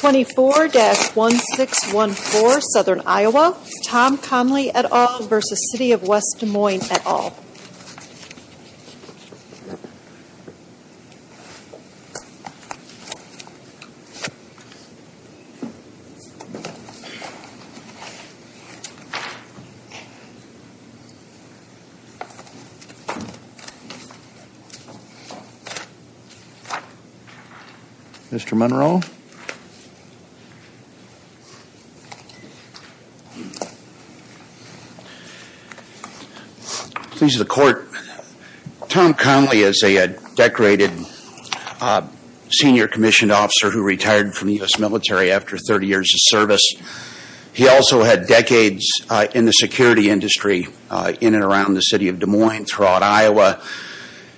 24-1614 Southern Iowa, Tom Conley et al. v. City of West Des Moines et al. Mr. Munro Please the court. Tom Conley is a decorated senior commissioned officer who retired from the U.S. military after 30 years of service. He also had decades in the security industry in and around the city of Des Moines throughout Iowa.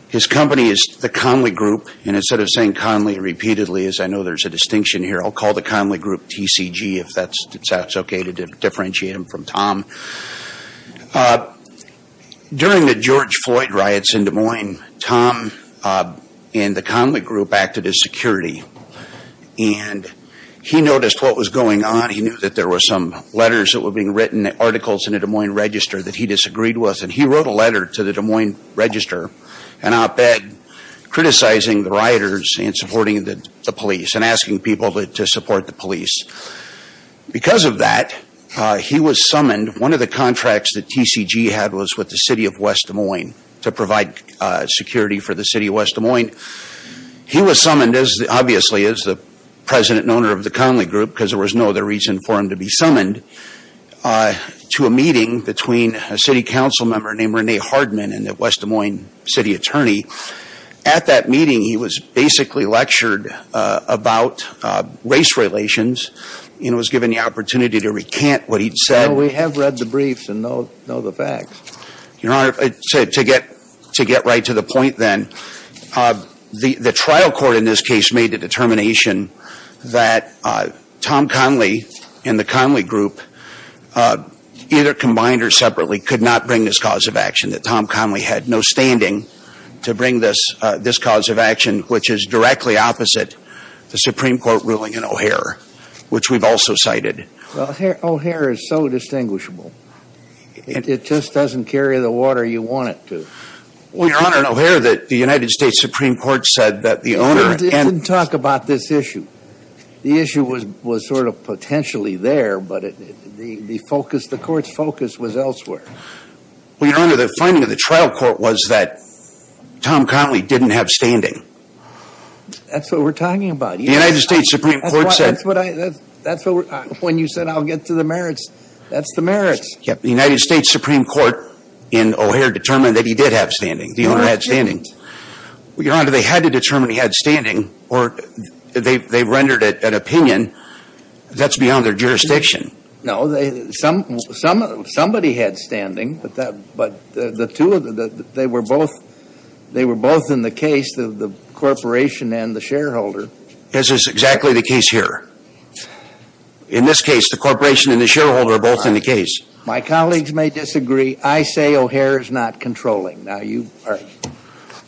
His company is the Conley Group, and instead of saying Conley repeatedly, as I know there's a distinction here, I'll call the Conley Group TCG if that's okay to differentiate him from Tom. During the George Floyd riots in Des Moines, Tom and the Conley Group acted as security. And he noticed what was going on. He knew that there were some letters that were being written, articles in the Des Moines Register that he disagreed with. And he wrote a letter to the Des Moines Register, an op-ed, criticizing the rioters and supporting the police and asking people to support the police. Because of that, he was summoned. One of the contracts that TCG had was with the city of West Des Moines to provide security for the city of West Des Moines. He was summoned, obviously, as the president and owner of the Conley Group, because there was no other reason for him to be summoned, to a meeting between a city council member named Renee Hardman and a West Des Moines city attorney. At that meeting, he was basically lectured about race relations and was given the opportunity to recant what he'd said. Well, we have read the briefs and know the facts. Your Honor, to get right to the point then, the trial court in this case made the determination that Tom Conley and the Conley Group, either combined or separately, could not bring this cause of action, that Tom Conley had no standing to bring this cause of action, which is directly opposite the Supreme Court ruling in O'Hare, which we've also cited. Well, O'Hare is so distinguishable. It just doesn't carry the water you want it to. Well, Your Honor, in O'Hare, the United States Supreme Court said that the owner... It didn't talk about this issue. The issue was sort of potentially there, but the court's focus was elsewhere. Well, Your Honor, the finding of the trial court was that Tom Conley didn't have standing. That's what we're talking about. The United States Supreme Court said... That's when you said, I'll get to the merits. That's the merits. The United States Supreme Court in O'Hare determined that he did have standing. The owner had standing. Well, Your Honor, they had to determine he had standing, or they rendered it an opinion. That's beyond their jurisdiction. No. Somebody had standing, but the two of them, they were both in the case, the corporation and the shareholder. This is exactly the case here. In this case, the corporation and the shareholder are both in the case. My colleagues may disagree. I say O'Hare is not controlling. Now, you argue.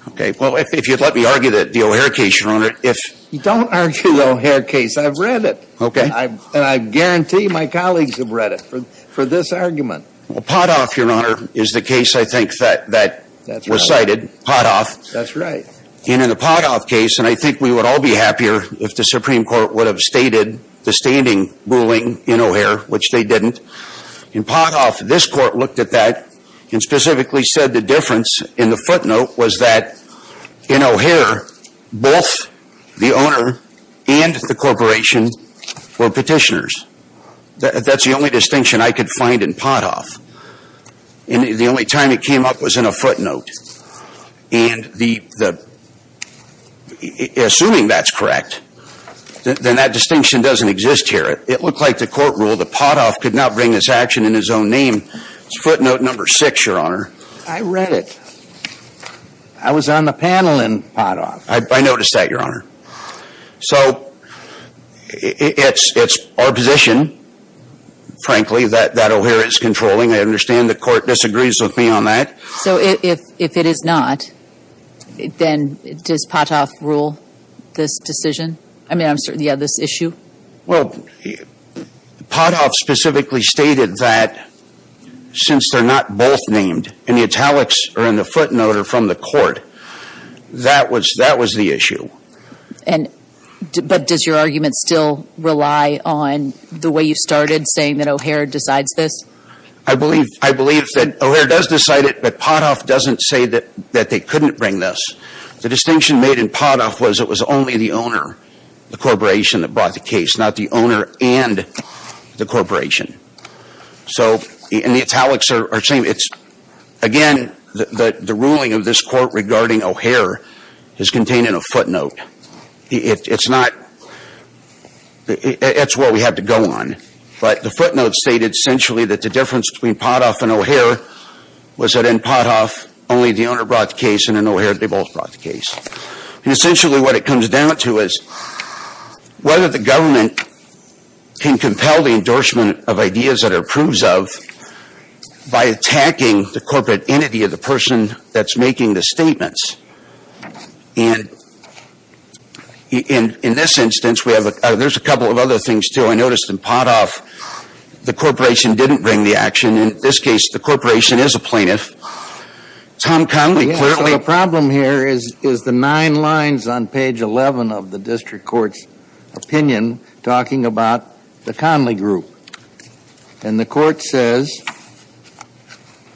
Okay. Well, if you'd let me argue the O'Hare case, Your Honor, if... Don't argue the O'Hare case. I've read it. Okay. And I guarantee my colleagues have read it for this argument. Well, Potthoff, Your Honor, is the case I think that was cited, Potthoff. That's right. And in the Potthoff case, and I think we would all be happier if the Supreme Court would have stated the standing ruling in O'Hare, which they didn't. In Potthoff, this court looked at that and specifically said the difference in the footnote was that in O'Hare, both the owner and the corporation were petitioners. That's the only distinction I could find in Potthoff. And the only time it came up was in a footnote. And assuming that's correct, then that distinction doesn't exist here. It looked like the court ruled that Potthoff could not bring this action in his own name. It's footnote number six, Your Honor. I read it. I was on the panel in Potthoff. I noticed that, Your Honor. So it's our position, frankly, that O'Hare is controlling. I understand the court disagrees with me on that. So if it is not, then does Potthoff rule this decision? I mean, yeah, this issue? Well, Potthoff specifically stated that since they're not both named, and the italics are in the footnote are from the court, that was the issue. But does your argument still rely on the way you started, saying that O'Hare decides this? I believe that O'Hare does decide it, but Potthoff doesn't say that they couldn't bring this. The distinction made in Potthoff was it was only the owner, the corporation, that brought the case, not the owner and the corporation. So the italics are the same. Again, the ruling of this court regarding O'Hare is contained in a footnote. It's not – it's what we had to go on. But the footnote stated essentially that the difference between Potthoff and O'Hare was that in Potthoff only the owner brought the case, and in O'Hare they both brought the case. And essentially what it comes down to is whether the government can compel the endorsement of ideas that it approves of by attacking the corporate entity of the person that's making the statements. And in this instance, we have – there's a couple of other things, too. I noticed in Potthoff the corporation didn't bring the action. In this case, the corporation is a plaintiff. Tom Conley clearly – So the problem here is the nine lines on page 11 of the district court's opinion talking about the Conley group. And the court says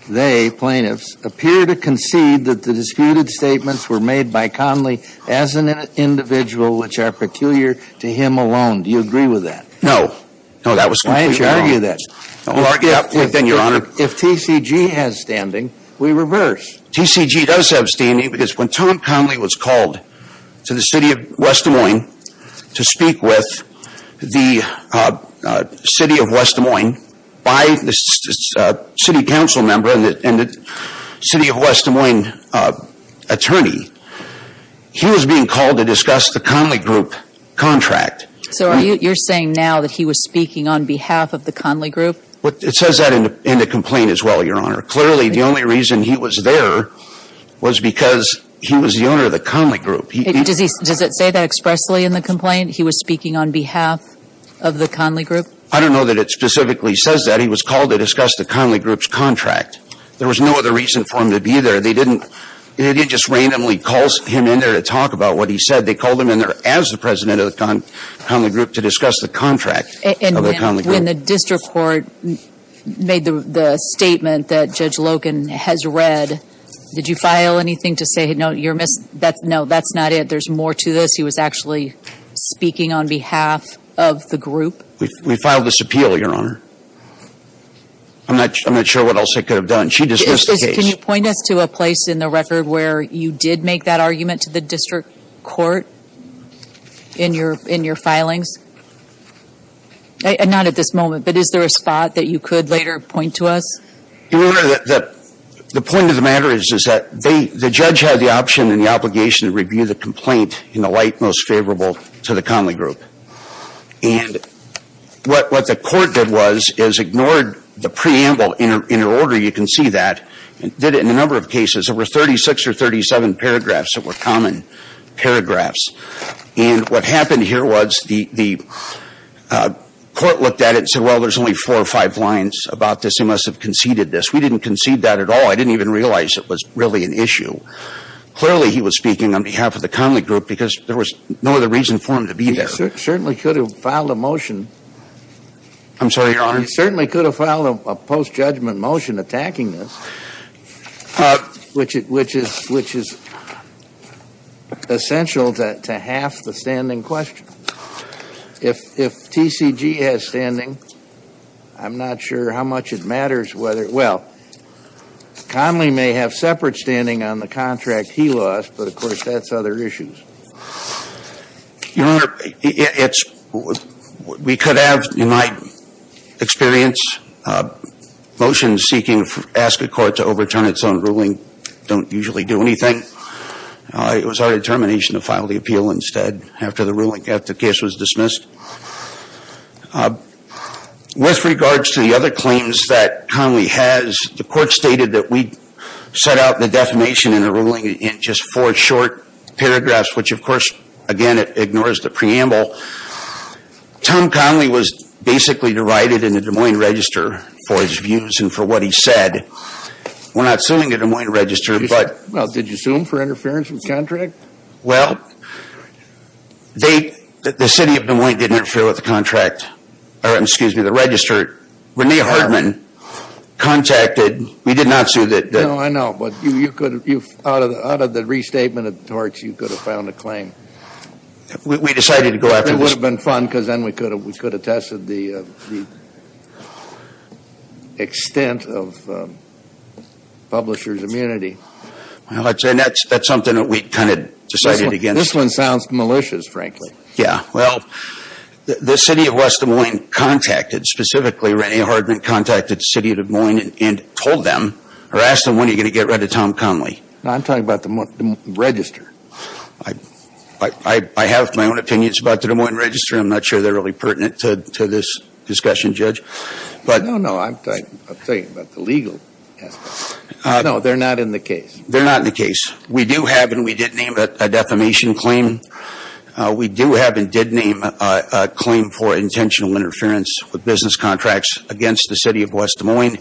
they, plaintiffs, appear to concede that the disputed statements were made by Conley as an individual which are peculiar to him alone. Do you agree with that? No. No, that was completely wrong. Why did you argue that? If TCG has standing, we reverse. TCG does have standing because when Tom Conley was called to the city of West Des Moines to speak with the city of West Des Moines by the city council member and the city of West Des Moines attorney, he was being called to discuss the Conley group contract. So you're saying now that he was speaking on behalf of the Conley group? It says that in the complaint as well, Your Honor. Clearly, the only reason he was there was because he was the owner of the Conley group. Does it say that expressly in the complaint? He was speaking on behalf of the Conley group? I don't know that it specifically says that. He was called to discuss the Conley group's contract. There was no other reason for him to be there. They didn't just randomly call him in there to talk about what he said. They called him in there as the president of the Conley group to discuss the contract of the Conley group. And when the district court made the statement that Judge Logan has read, did you file anything to say, no, that's not it, there's more to this, he was actually speaking on behalf of the group? We filed this appeal, Your Honor. I'm not sure what else I could have done. She dismissed the case. Can you point us to a place in the record where you did make that argument to the district court in your filings? Not at this moment, but is there a spot that you could later point to us? Your Honor, the point of the matter is that the judge had the option and the obligation to review the complaint in the light most favorable to the Conley group. And what the court did was is ignored the preamble in order. You can see that. It did it in a number of cases. There were 36 or 37 paragraphs that were common paragraphs. And what happened here was the court looked at it and said, well, there's only four or five lines about this. He must have conceded this. We didn't concede that at all. I didn't even realize it was really an issue. Clearly, he was speaking on behalf of the Conley group because there was no other reason for him to be there. He certainly could have filed a motion. I'm sorry, Your Honor? He certainly could have filed a post-judgment motion attacking this, which is essential to half the standing question. If TCG has standing, I'm not sure how much it matters whether, well, Conley may have separate standing on the contract he lost, but, of course, that's other issues. Your Honor, we could have, in my experience, motions seeking to ask a court to overturn its own ruling don't usually do anything. It was our determination to file the appeal instead after the ruling, after the case was dismissed. With regards to the other claims that Conley has, the court stated that we set out the defamation in the ruling in just four short paragraphs, which, of course, again, it ignores the preamble. Tom Conley was basically divided in the Des Moines Register for his views and for what he said. We're not suing the Des Moines Register. Well, did you sue them for interference with the contract? Well, the City of Des Moines didn't interfere with the contract, or, excuse me, the register. Renee Hartman contacted. We did not sue that. No, I know, but out of the restatement of the torts, you could have filed a claim. We decided to go after this. It would have been fun because then we could have tested the extent of publishers' immunity. Well, that's something that we kind of decided against. This one sounds malicious, frankly. Yeah. Well, the City of West Des Moines contacted, specifically Renee Hartman contacted the City of Des Moines and told them, or asked them, when are you going to get rid of Tom Conley? I'm talking about the register. I have my own opinions about the Des Moines Register. I'm not sure they're really pertinent to this discussion, Judge. No, no, I'm talking about the legal aspect. No, they're not in the case. They're not in the case. We do have and we did name a defamation claim. We do have and did name a claim for intentional interference with business contracts against the City of West Des Moines.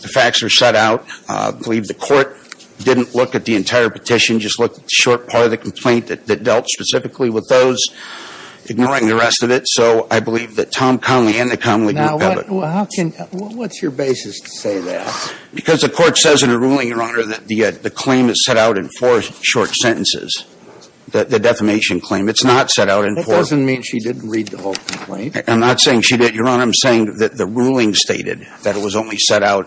The facts are set out. I believe the court didn't look at the entire petition, just looked at the short part of the complaint that dealt specifically with those, ignoring the rest of it. So I believe that Tom Conley and the Conley group have it. Now, what's your basis to say that? Because the court says in a ruling, Your Honor, that the claim is set out in four short sentences, the defamation claim. It's not set out in four. That doesn't mean she didn't read the whole complaint. I'm not saying she didn't. Your Honor, I'm saying that the ruling stated that it was only set out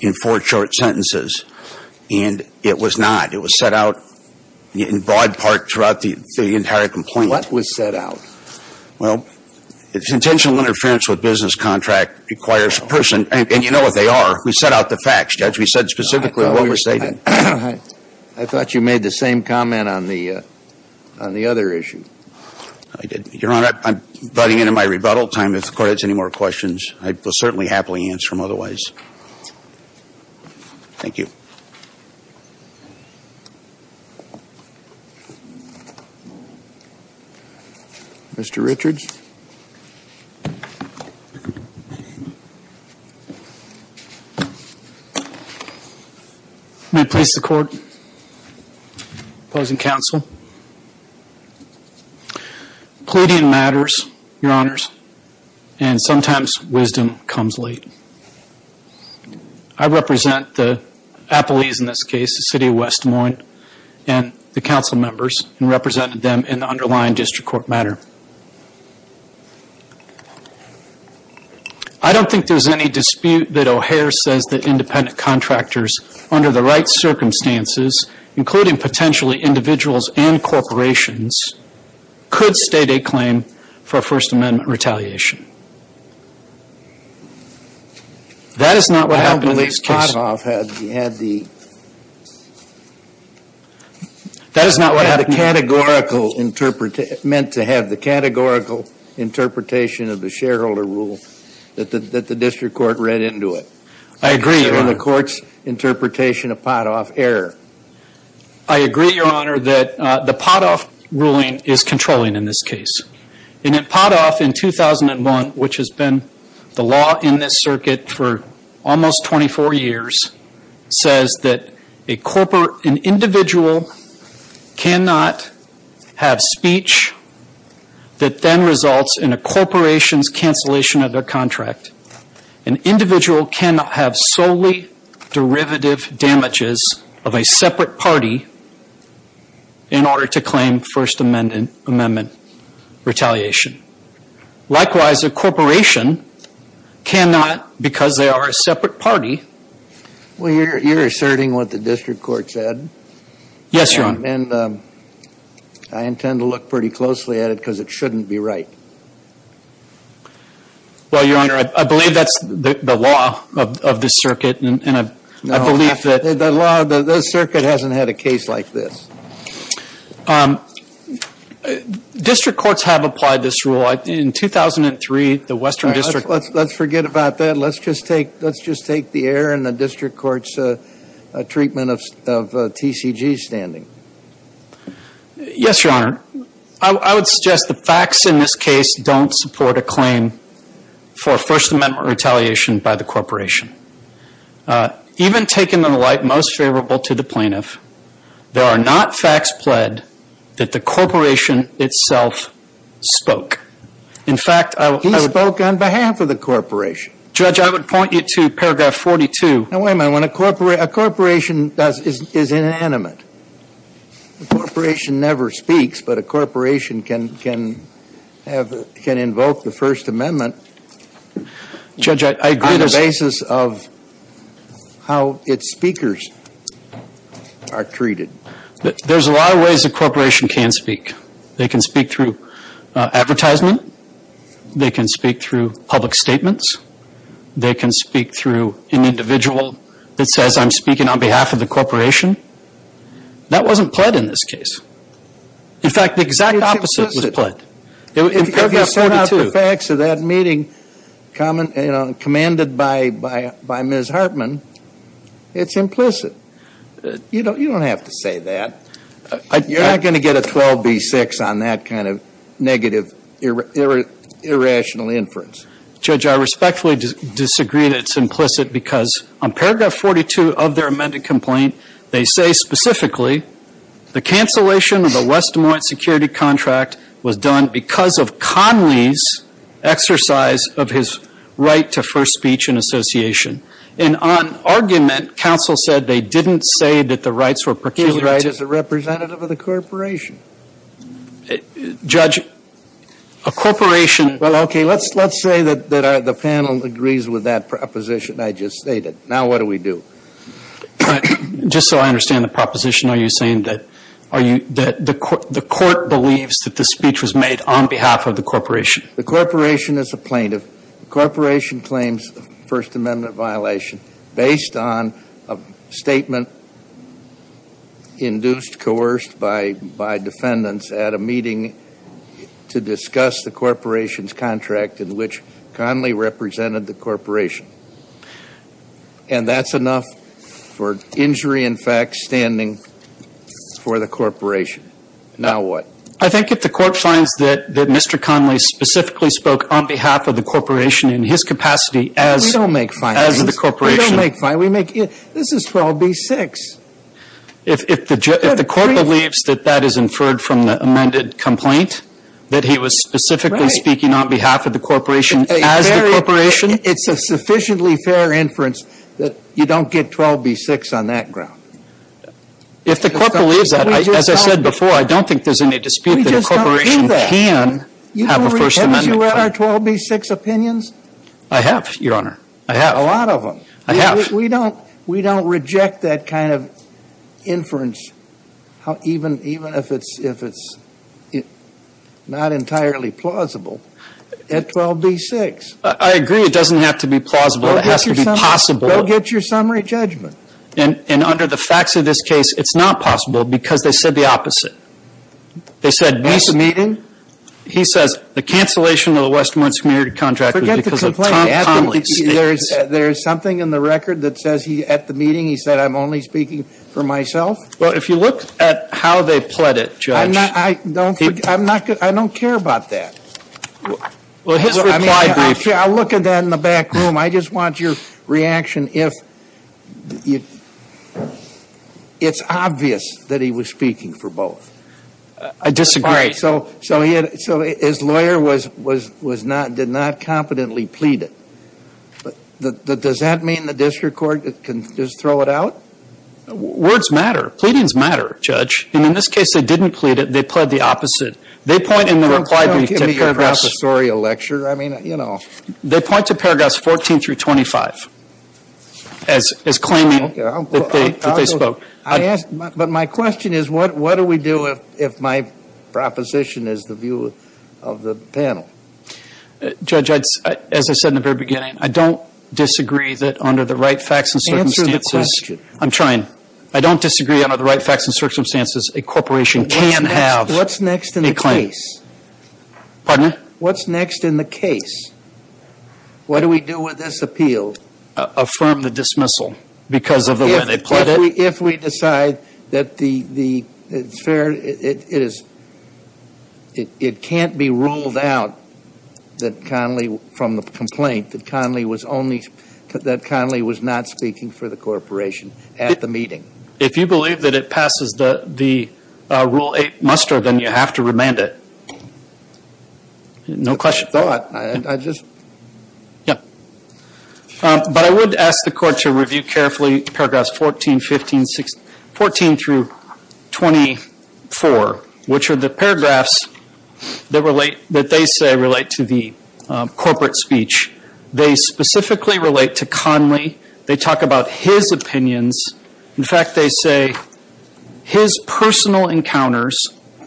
in four short sentences, and it was not. It was set out in broad part throughout the entire complaint. What was set out? Well, intentional interference with business contract requires a person, and you know what they are. We set out the facts, Judge. We said specifically what we're stating. I thought you made the same comment on the other issue. I did. Your Honor, I'm inviting you into my rebuttal time. If the Court has any more questions, I will certainly happily answer them otherwise. Thank you. Mr. Richards? May I please the Court? Opposing counsel? Pleading matters, Your Honors, and sometimes wisdom comes late. I represent the appellees in this case, the City of West Des Moines, and the Council members, and represented them in the underlying District Court matter. I don't think there's any dispute that O'Hare says that independent contractors under the right circumstances, including potentially individuals and corporations, could state a claim for a First Amendment retaliation. That is not what happened in this case. I don't believe Potthoff had the categorical, meant to have the categorical interpretation of the shareholder rule that the District Court read into it. I agree, Your Honor. Or the Court's interpretation of Potthoff error. I agree, Your Honor, that the Potthoff ruling is controlling in this case. In Potthoff in 2001, which has been the law in this circuit for almost 24 years, says that an individual cannot have speech that then results in a corporation's cancellation of their contract. An individual cannot have solely derivative damages of a separate party in order to claim First Amendment retaliation. Likewise, a corporation cannot, because they are a separate party. Well, you're asserting what the District Court said. Yes, Your Honor. And I intend to look pretty closely at it because it shouldn't be right. Well, Your Honor, I believe that's the law of this circuit, and I believe that... No, the law of the circuit hasn't had a case like this. District Courts have applied this rule. In 2003, the Western District Court... Let's forget about that. Let's just take the error in the District Court's treatment of TCG standing. Yes, Your Honor. I would suggest the facts in this case don't support a claim for First Amendment retaliation by the corporation. Even taken in the light most favorable to the plaintiff, there are not facts pled that the corporation itself spoke. In fact, I would... He spoke on behalf of the corporation. Judge, I would point you to paragraph 42. No, wait a minute. A corporation is inanimate. A corporation never speaks, but a corporation can invoke the First Amendment... Judge, I agree... ...on the basis of how its speakers are treated. There's a lot of ways a corporation can speak. They can speak through advertisement. They can speak through public statements. They can speak through an individual that says, I'm speaking on behalf of the corporation. That wasn't pled in this case. In fact, the exact opposite was pled. If you sort out the facts of that meeting commanded by Ms. Hartman, it's implicit. You don't have to say that. You're not going to get a 12B6 on that kind of negative irrational inference. Judge, I respectfully disagree that it's implicit because on paragraph 42 of their amended complaint, they say specifically the cancellation of the West Des Moines security contract was done because of Conley's exercise of his right to first speech in association. And on argument, counsel said they didn't say that the rights were... He was right as a representative of the corporation. Judge, a corporation... Well, okay, let's say that the panel agrees with that proposition I just stated. Now what do we do? Just so I understand the proposition, are you saying that the court believes that the speech was made on behalf of the corporation? The corporation is a plaintiff. The corporation claims a First Amendment violation based on a statement induced, coerced by defendants at a meeting to discuss the corporation's contract in which Conley represented the corporation. And that's enough for injury in fact standing for the corporation. Now what? I think if the court finds that Mr. Conley specifically spoke on behalf of the corporation in his capacity as... We don't make fines. ...as the corporation. We don't make fines. This is 12B6. If the court believes that that is inferred from the amended complaint, that he was specifically speaking on behalf of the corporation as the corporation... It's a sufficiently fair inference that you don't get 12B6 on that ground. If the court believes that, as I said before, I don't think there's any dispute that a corporation can have a First Amendment claim. You don't reject our 12B6 opinions? I have, Your Honor. I have. A lot of them. I have. We don't reject that kind of inference even if it's not entirely plausible at 12B6. I agree it doesn't have to be plausible. It has to be possible. Go get your summary judgment. And under the facts of this case, it's not possible because they said the opposite. They said... At the meeting? He says the cancellation of the Westmoreland Community Contract was because of Tom Conley. Forget the complaint. There is something in the record that says at the meeting he said, I'm only speaking for myself? Well, if you look at how they pled it, Judge... I don't care about that. Well, his reply brief... I'll look at that in the back room. I just want your reaction if it's obvious that he was speaking for both. I disagree. So his lawyer did not competently plead it. Does that mean the district court can just throw it out? Words matter. Pleadings matter, Judge. And in this case, they didn't plead it. They pled the opposite. They point in the reply brief to paragraphs... Don't give me your professorial lecture. I mean, you know... They point to paragraphs 14 through 25 as claiming that they spoke. But my question is, what do we do if my proposition is the view of the panel? Judge, as I said in the very beginning, I don't disagree that under the right facts and circumstances... Answer the question. I'm trying. I don't disagree under the right facts and circumstances a corporation can have a claim. What's next in the case? Pardon me? What's next in the case? What do we do with this appeal? Affirm the dismissal because of the way they pled it. If we decide that it's fair, it can't be ruled out from the complaint that Conley was not speaking for the corporation at the meeting. If you believe that it passes the Rule 8 muster, then you have to remand it. No question. No, I just... Yeah. But I would ask the court to review carefully paragraphs 14 through 24, which are the paragraphs that they say relate to the corporate speech. They specifically relate to Conley. They talk about his opinions. In fact, they say his personal encounters.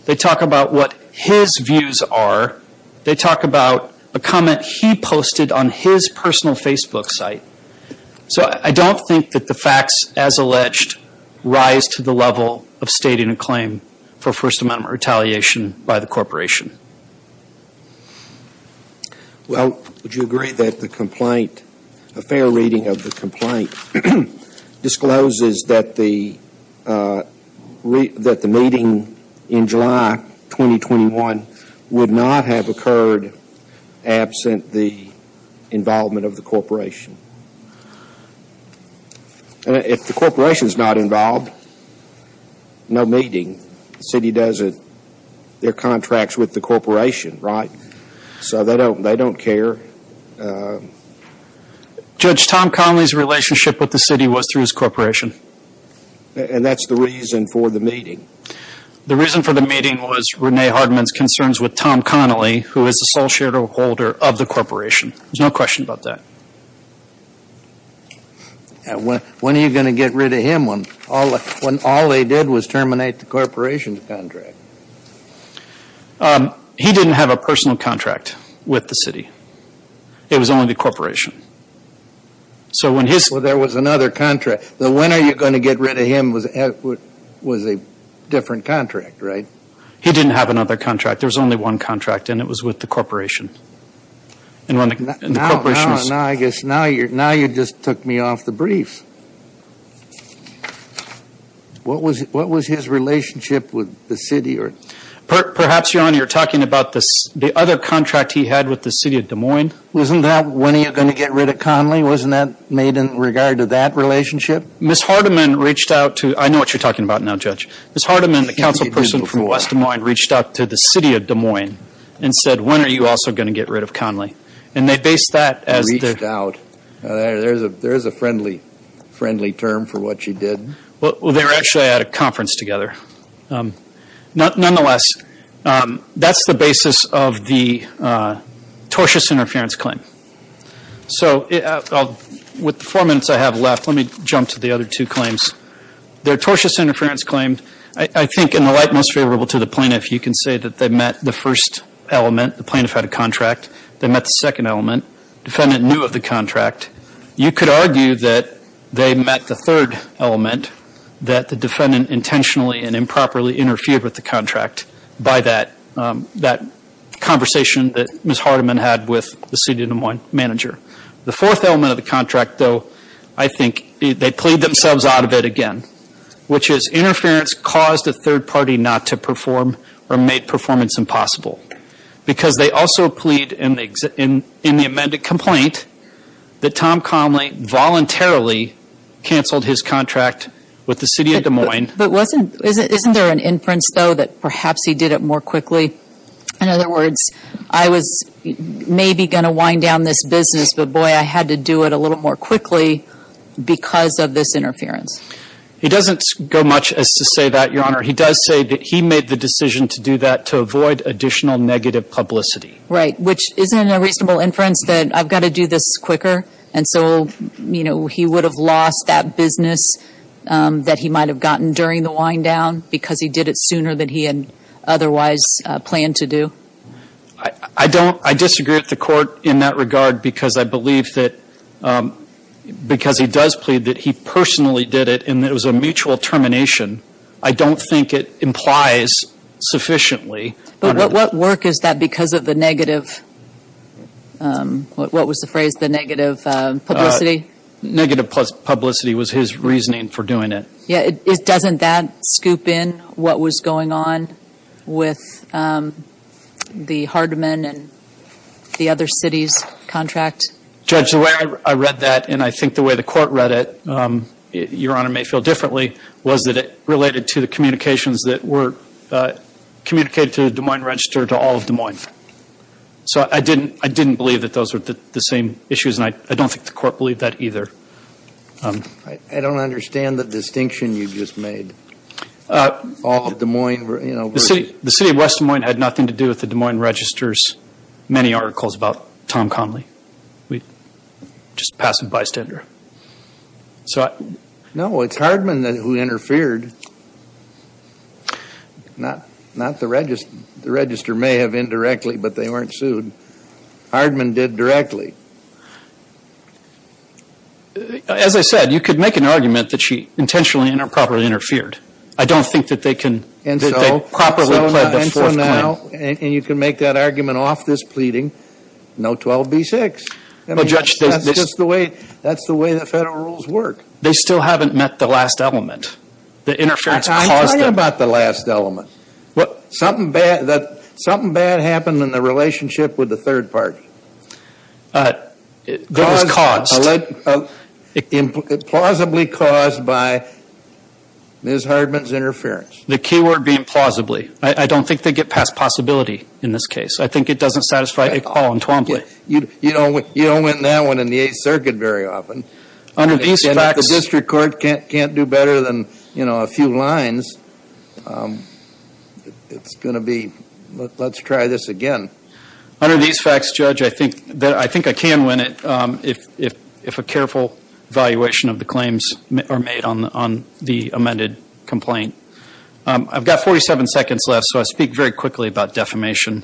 They talk about what his views are. They talk about a comment he posted on his personal Facebook site. So I don't think that the facts, as alleged, rise to the level of stating a claim for First Amendment retaliation by the corporation. Well, would you agree that the complaint, a fair reading of the complaint, discloses that the meeting in July 2021 would not have occurred absent the involvement of the corporation? If the corporation's not involved, no meeting. The city does their contracts with the corporation, right? So they don't care. Judge, Tom Conley's relationship with the city was through his corporation. And that's the reason for the meeting. The reason for the meeting was Renee Hardman's concerns with Tom Conley, who is the sole shareholder of the corporation. There's no question about that. When are you going to get rid of him when all they did was terminate the corporation's contract? He didn't have a personal contract with the city. It was only the corporation. So when his... So there was another contract. The when are you going to get rid of him was a different contract, right? He didn't have another contract. There was only one contract, and it was with the corporation. Now you just took me off the brief. What was his relationship with the city? Perhaps, Your Honor, you're talking about the other contract he had with the city of Des Moines. Wasn't that when are you going to get rid of Conley? Wasn't that made in regard to that relationship? Ms. Hardman reached out to... I know what you're talking about now, Judge. Ms. Hardman, the council person from West Des Moines, reached out to the city of Des Moines and said, when are you also going to get rid of Conley? And they based that as... Reached out. There is a friendly term for what she did. Well, they were actually at a conference together. Nonetheless, that's the basis of the tortious interference claim. So with the four minutes I have left, let me jump to the other two claims. Their tortious interference claim, I think in the light most favorable to the plaintiff, you can say that they met the first element, the plaintiff had a contract. They met the second element. Defendant knew of the contract. You could argue that they met the third element, that the defendant intentionally and improperly interfered with the contract by that conversation that Ms. Hardman had with the city of Des Moines manager. The fourth element of the contract, though, I think they plead themselves out of it again, which is interference caused a third party not to perform or made performance impossible. Because they also plead in the amended complaint that Tom Conley voluntarily canceled his contract with the city of Des Moines. But isn't there an inference, though, that perhaps he did it more quickly? In other words, I was maybe going to wind down this business, but boy, I had to do it a little more quickly because of this interference. He doesn't go much as to say that, Your Honor. He does say that he made the decision to do that to avoid additional negative publicity. Right, which isn't a reasonable inference that I've got to do this quicker, and so he would have lost that business that he might have gotten during the wind down because he did it sooner than he had otherwise planned to do. I don't, I disagree with the court in that regard because I believe that, because he does plead that he personally did it and that it was a mutual termination. I don't think it implies sufficiently. But what work is that because of the negative, what was the phrase, the negative publicity? Negative publicity was his reasoning for doing it. Yeah, doesn't that scoop in what was going on with the Hardeman and the other cities' contract? Judge, the way I read that, and I think the way the court read it, Your Honor may feel differently, was that it related to the communications that were communicated to the Des Moines Register to all of Des Moines. So I didn't believe that those were the same issues, and I don't think the court believed that either. I don't understand the distinction you just made. All of Des Moines were, you know. The City of West Des Moines had nothing to do with the Des Moines Register's many articles about Tom Conley. Just a passive bystander. No, it's Hardeman who interfered, not the Register. The Register may have indirectly, but they weren't sued. Hardeman did directly. As I said, you could make an argument that she intentionally and improperly interfered. I don't think that they can, that they properly pled the Fourth Claim. And so, and for now, and you can make that argument off this pleading, no 12b-6. Well, Judge. That's just the way, that's the way the federal rules work. They still haven't met the last element. The interference caused it. I'm talking about the last element. Something bad happened in the relationship with the third party. It was caused. Plausibly caused by Ms. Hardeman's interference. The key word being plausibly. I don't think they get past possibility in this case. I think it doesn't satisfy a call on 12b. You don't win that one in the Eighth Circuit very often. The district court can't do better than, you know, a few lines. It's going to be, let's try this again. Under these facts, Judge, I think I can win it if a careful evaluation of the claims are made on the amended complaint. I've got 47 seconds left, so I'll speak very quickly about defamation.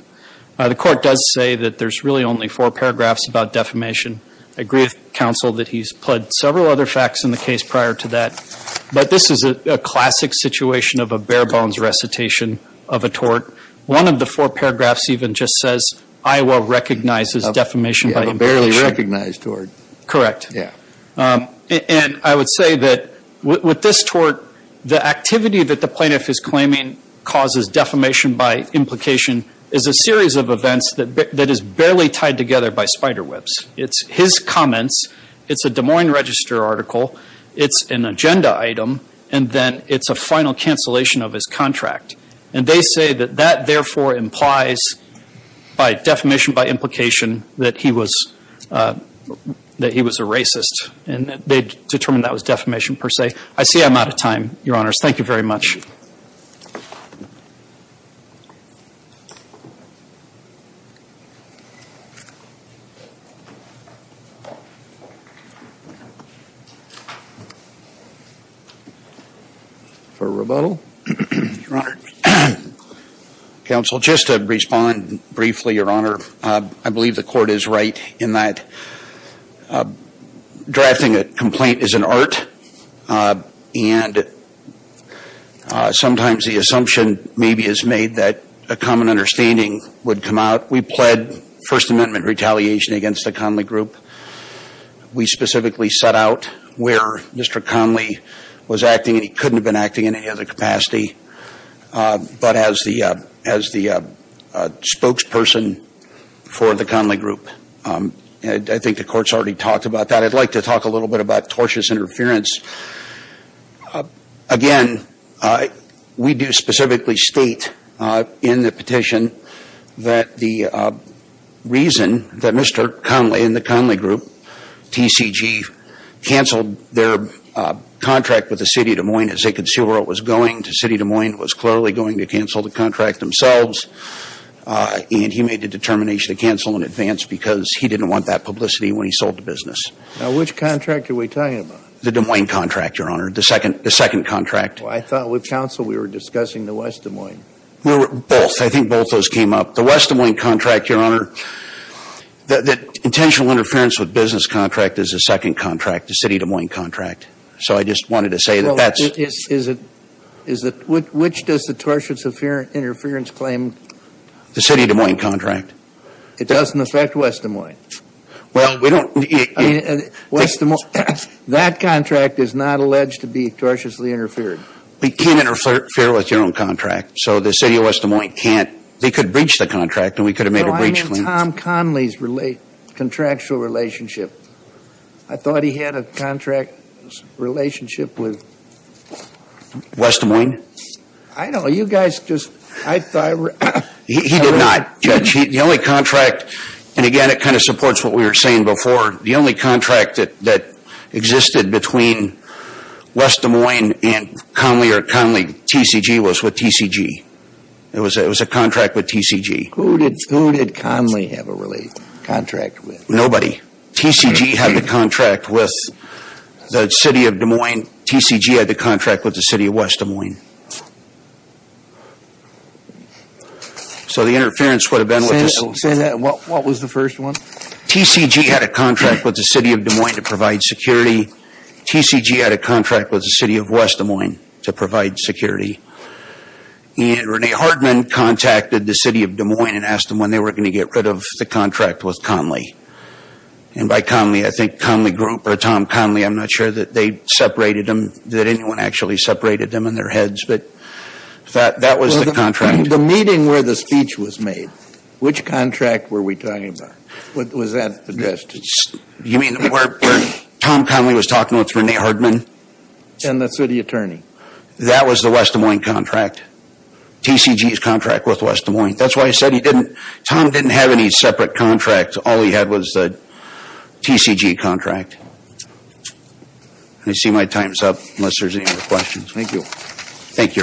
The court does say that there's really only four paragraphs about defamation. I agree with counsel that he's pled several other facts in the case prior to that. But this is a classic situation of a bare-bones recitation of a tort. One of the four paragraphs even just says, Iowa recognizes defamation by implication. A barely recognized tort. Correct. And I would say that with this tort, the activity that the plaintiff is claiming causes defamation by implication is a series of events that is barely tied together by spider webs. It's his comments. It's a Des Moines Register article. It's an agenda item. And then it's a final cancellation of his contract. And they say that that, therefore, implies by defamation by implication that he was a racist. And they determined that was defamation per se. I see I'm out of time, Your Honors. Thank you very much. For rebuttal, Your Honor. Counsel, just to respond briefly, Your Honor. I believe the court is right in that drafting a complaint is an art. And sometimes the assumption maybe is made that a common understanding would come out. We pled First Amendment retaliation against the Conley Group. We specifically set out where Mr. Conley was acting, and he couldn't have been acting in any other capacity, but as the spokesperson for the Conley Group. I think the court's already talked about that. I'd like to talk a little bit about tortious interference. Again, we do specifically state in the petition that the reason that Mr. Conley and the Conley Group, TCG, canceled their contract with the City of Des Moines as they could see where it was going, the City of Des Moines was clearly going to cancel the contract themselves. And he made the determination to cancel in advance because he didn't want that publicity when he sold the business. Now, which contract are we talking about? The Des Moines contract, Your Honor, the second contract. I thought with counsel we were discussing the West Des Moines. Both. I think both those came up. The West Des Moines contract, Your Honor, the intentional interference with business contract is the second contract, the City of Des Moines contract. So I just wanted to say that that's. Which does the tortious interference claim? The City of Des Moines contract. It doesn't affect West Des Moines. Well, we don't. West Des Moines, that contract is not alleged to be tortiously interfered. We can't interfere with your own contract. So the City of West Des Moines can't. They could breach the contract and we could have made a breach claim. No, I mean Tom Conley's contractual relationship. I thought he had a contract relationship with. West Des Moines? I don't know. You guys just. He did not, Judge. The only contract, and again, it kind of supports what we were saying before. The only contract that existed between West Des Moines and Conley or Conley TCG was with TCG. It was a contract with TCG. Who did Conley have a contract with? Nobody. TCG had the contract with the City of Des Moines. TCG had the contract with the City of West Des Moines. So the interference would have been. What was the first one? TCG had a contract with the City of Des Moines to provide security. TCG had a contract with the City of West Des Moines to provide security. And Renee Hartman contacted the City of Des Moines and asked them when they were going to get rid of the contract with Conley. And by Conley, I think Conley Group or Tom Conley. I'm not sure that they separated them, that anyone actually separated them in their heads. But that was the contract. The meeting where the speech was made, which contract were we talking about? Was that addressed? You mean where Tom Conley was talking with Renee Hartman? And the City Attorney. That was the West Des Moines contract. TCG's contract with West Des Moines. That's why I said he didn't. Tom didn't have any separate contracts. All he had was the TCG contract. I see my time's up unless there's any more questions. Thank you. Thank you, Your Honors.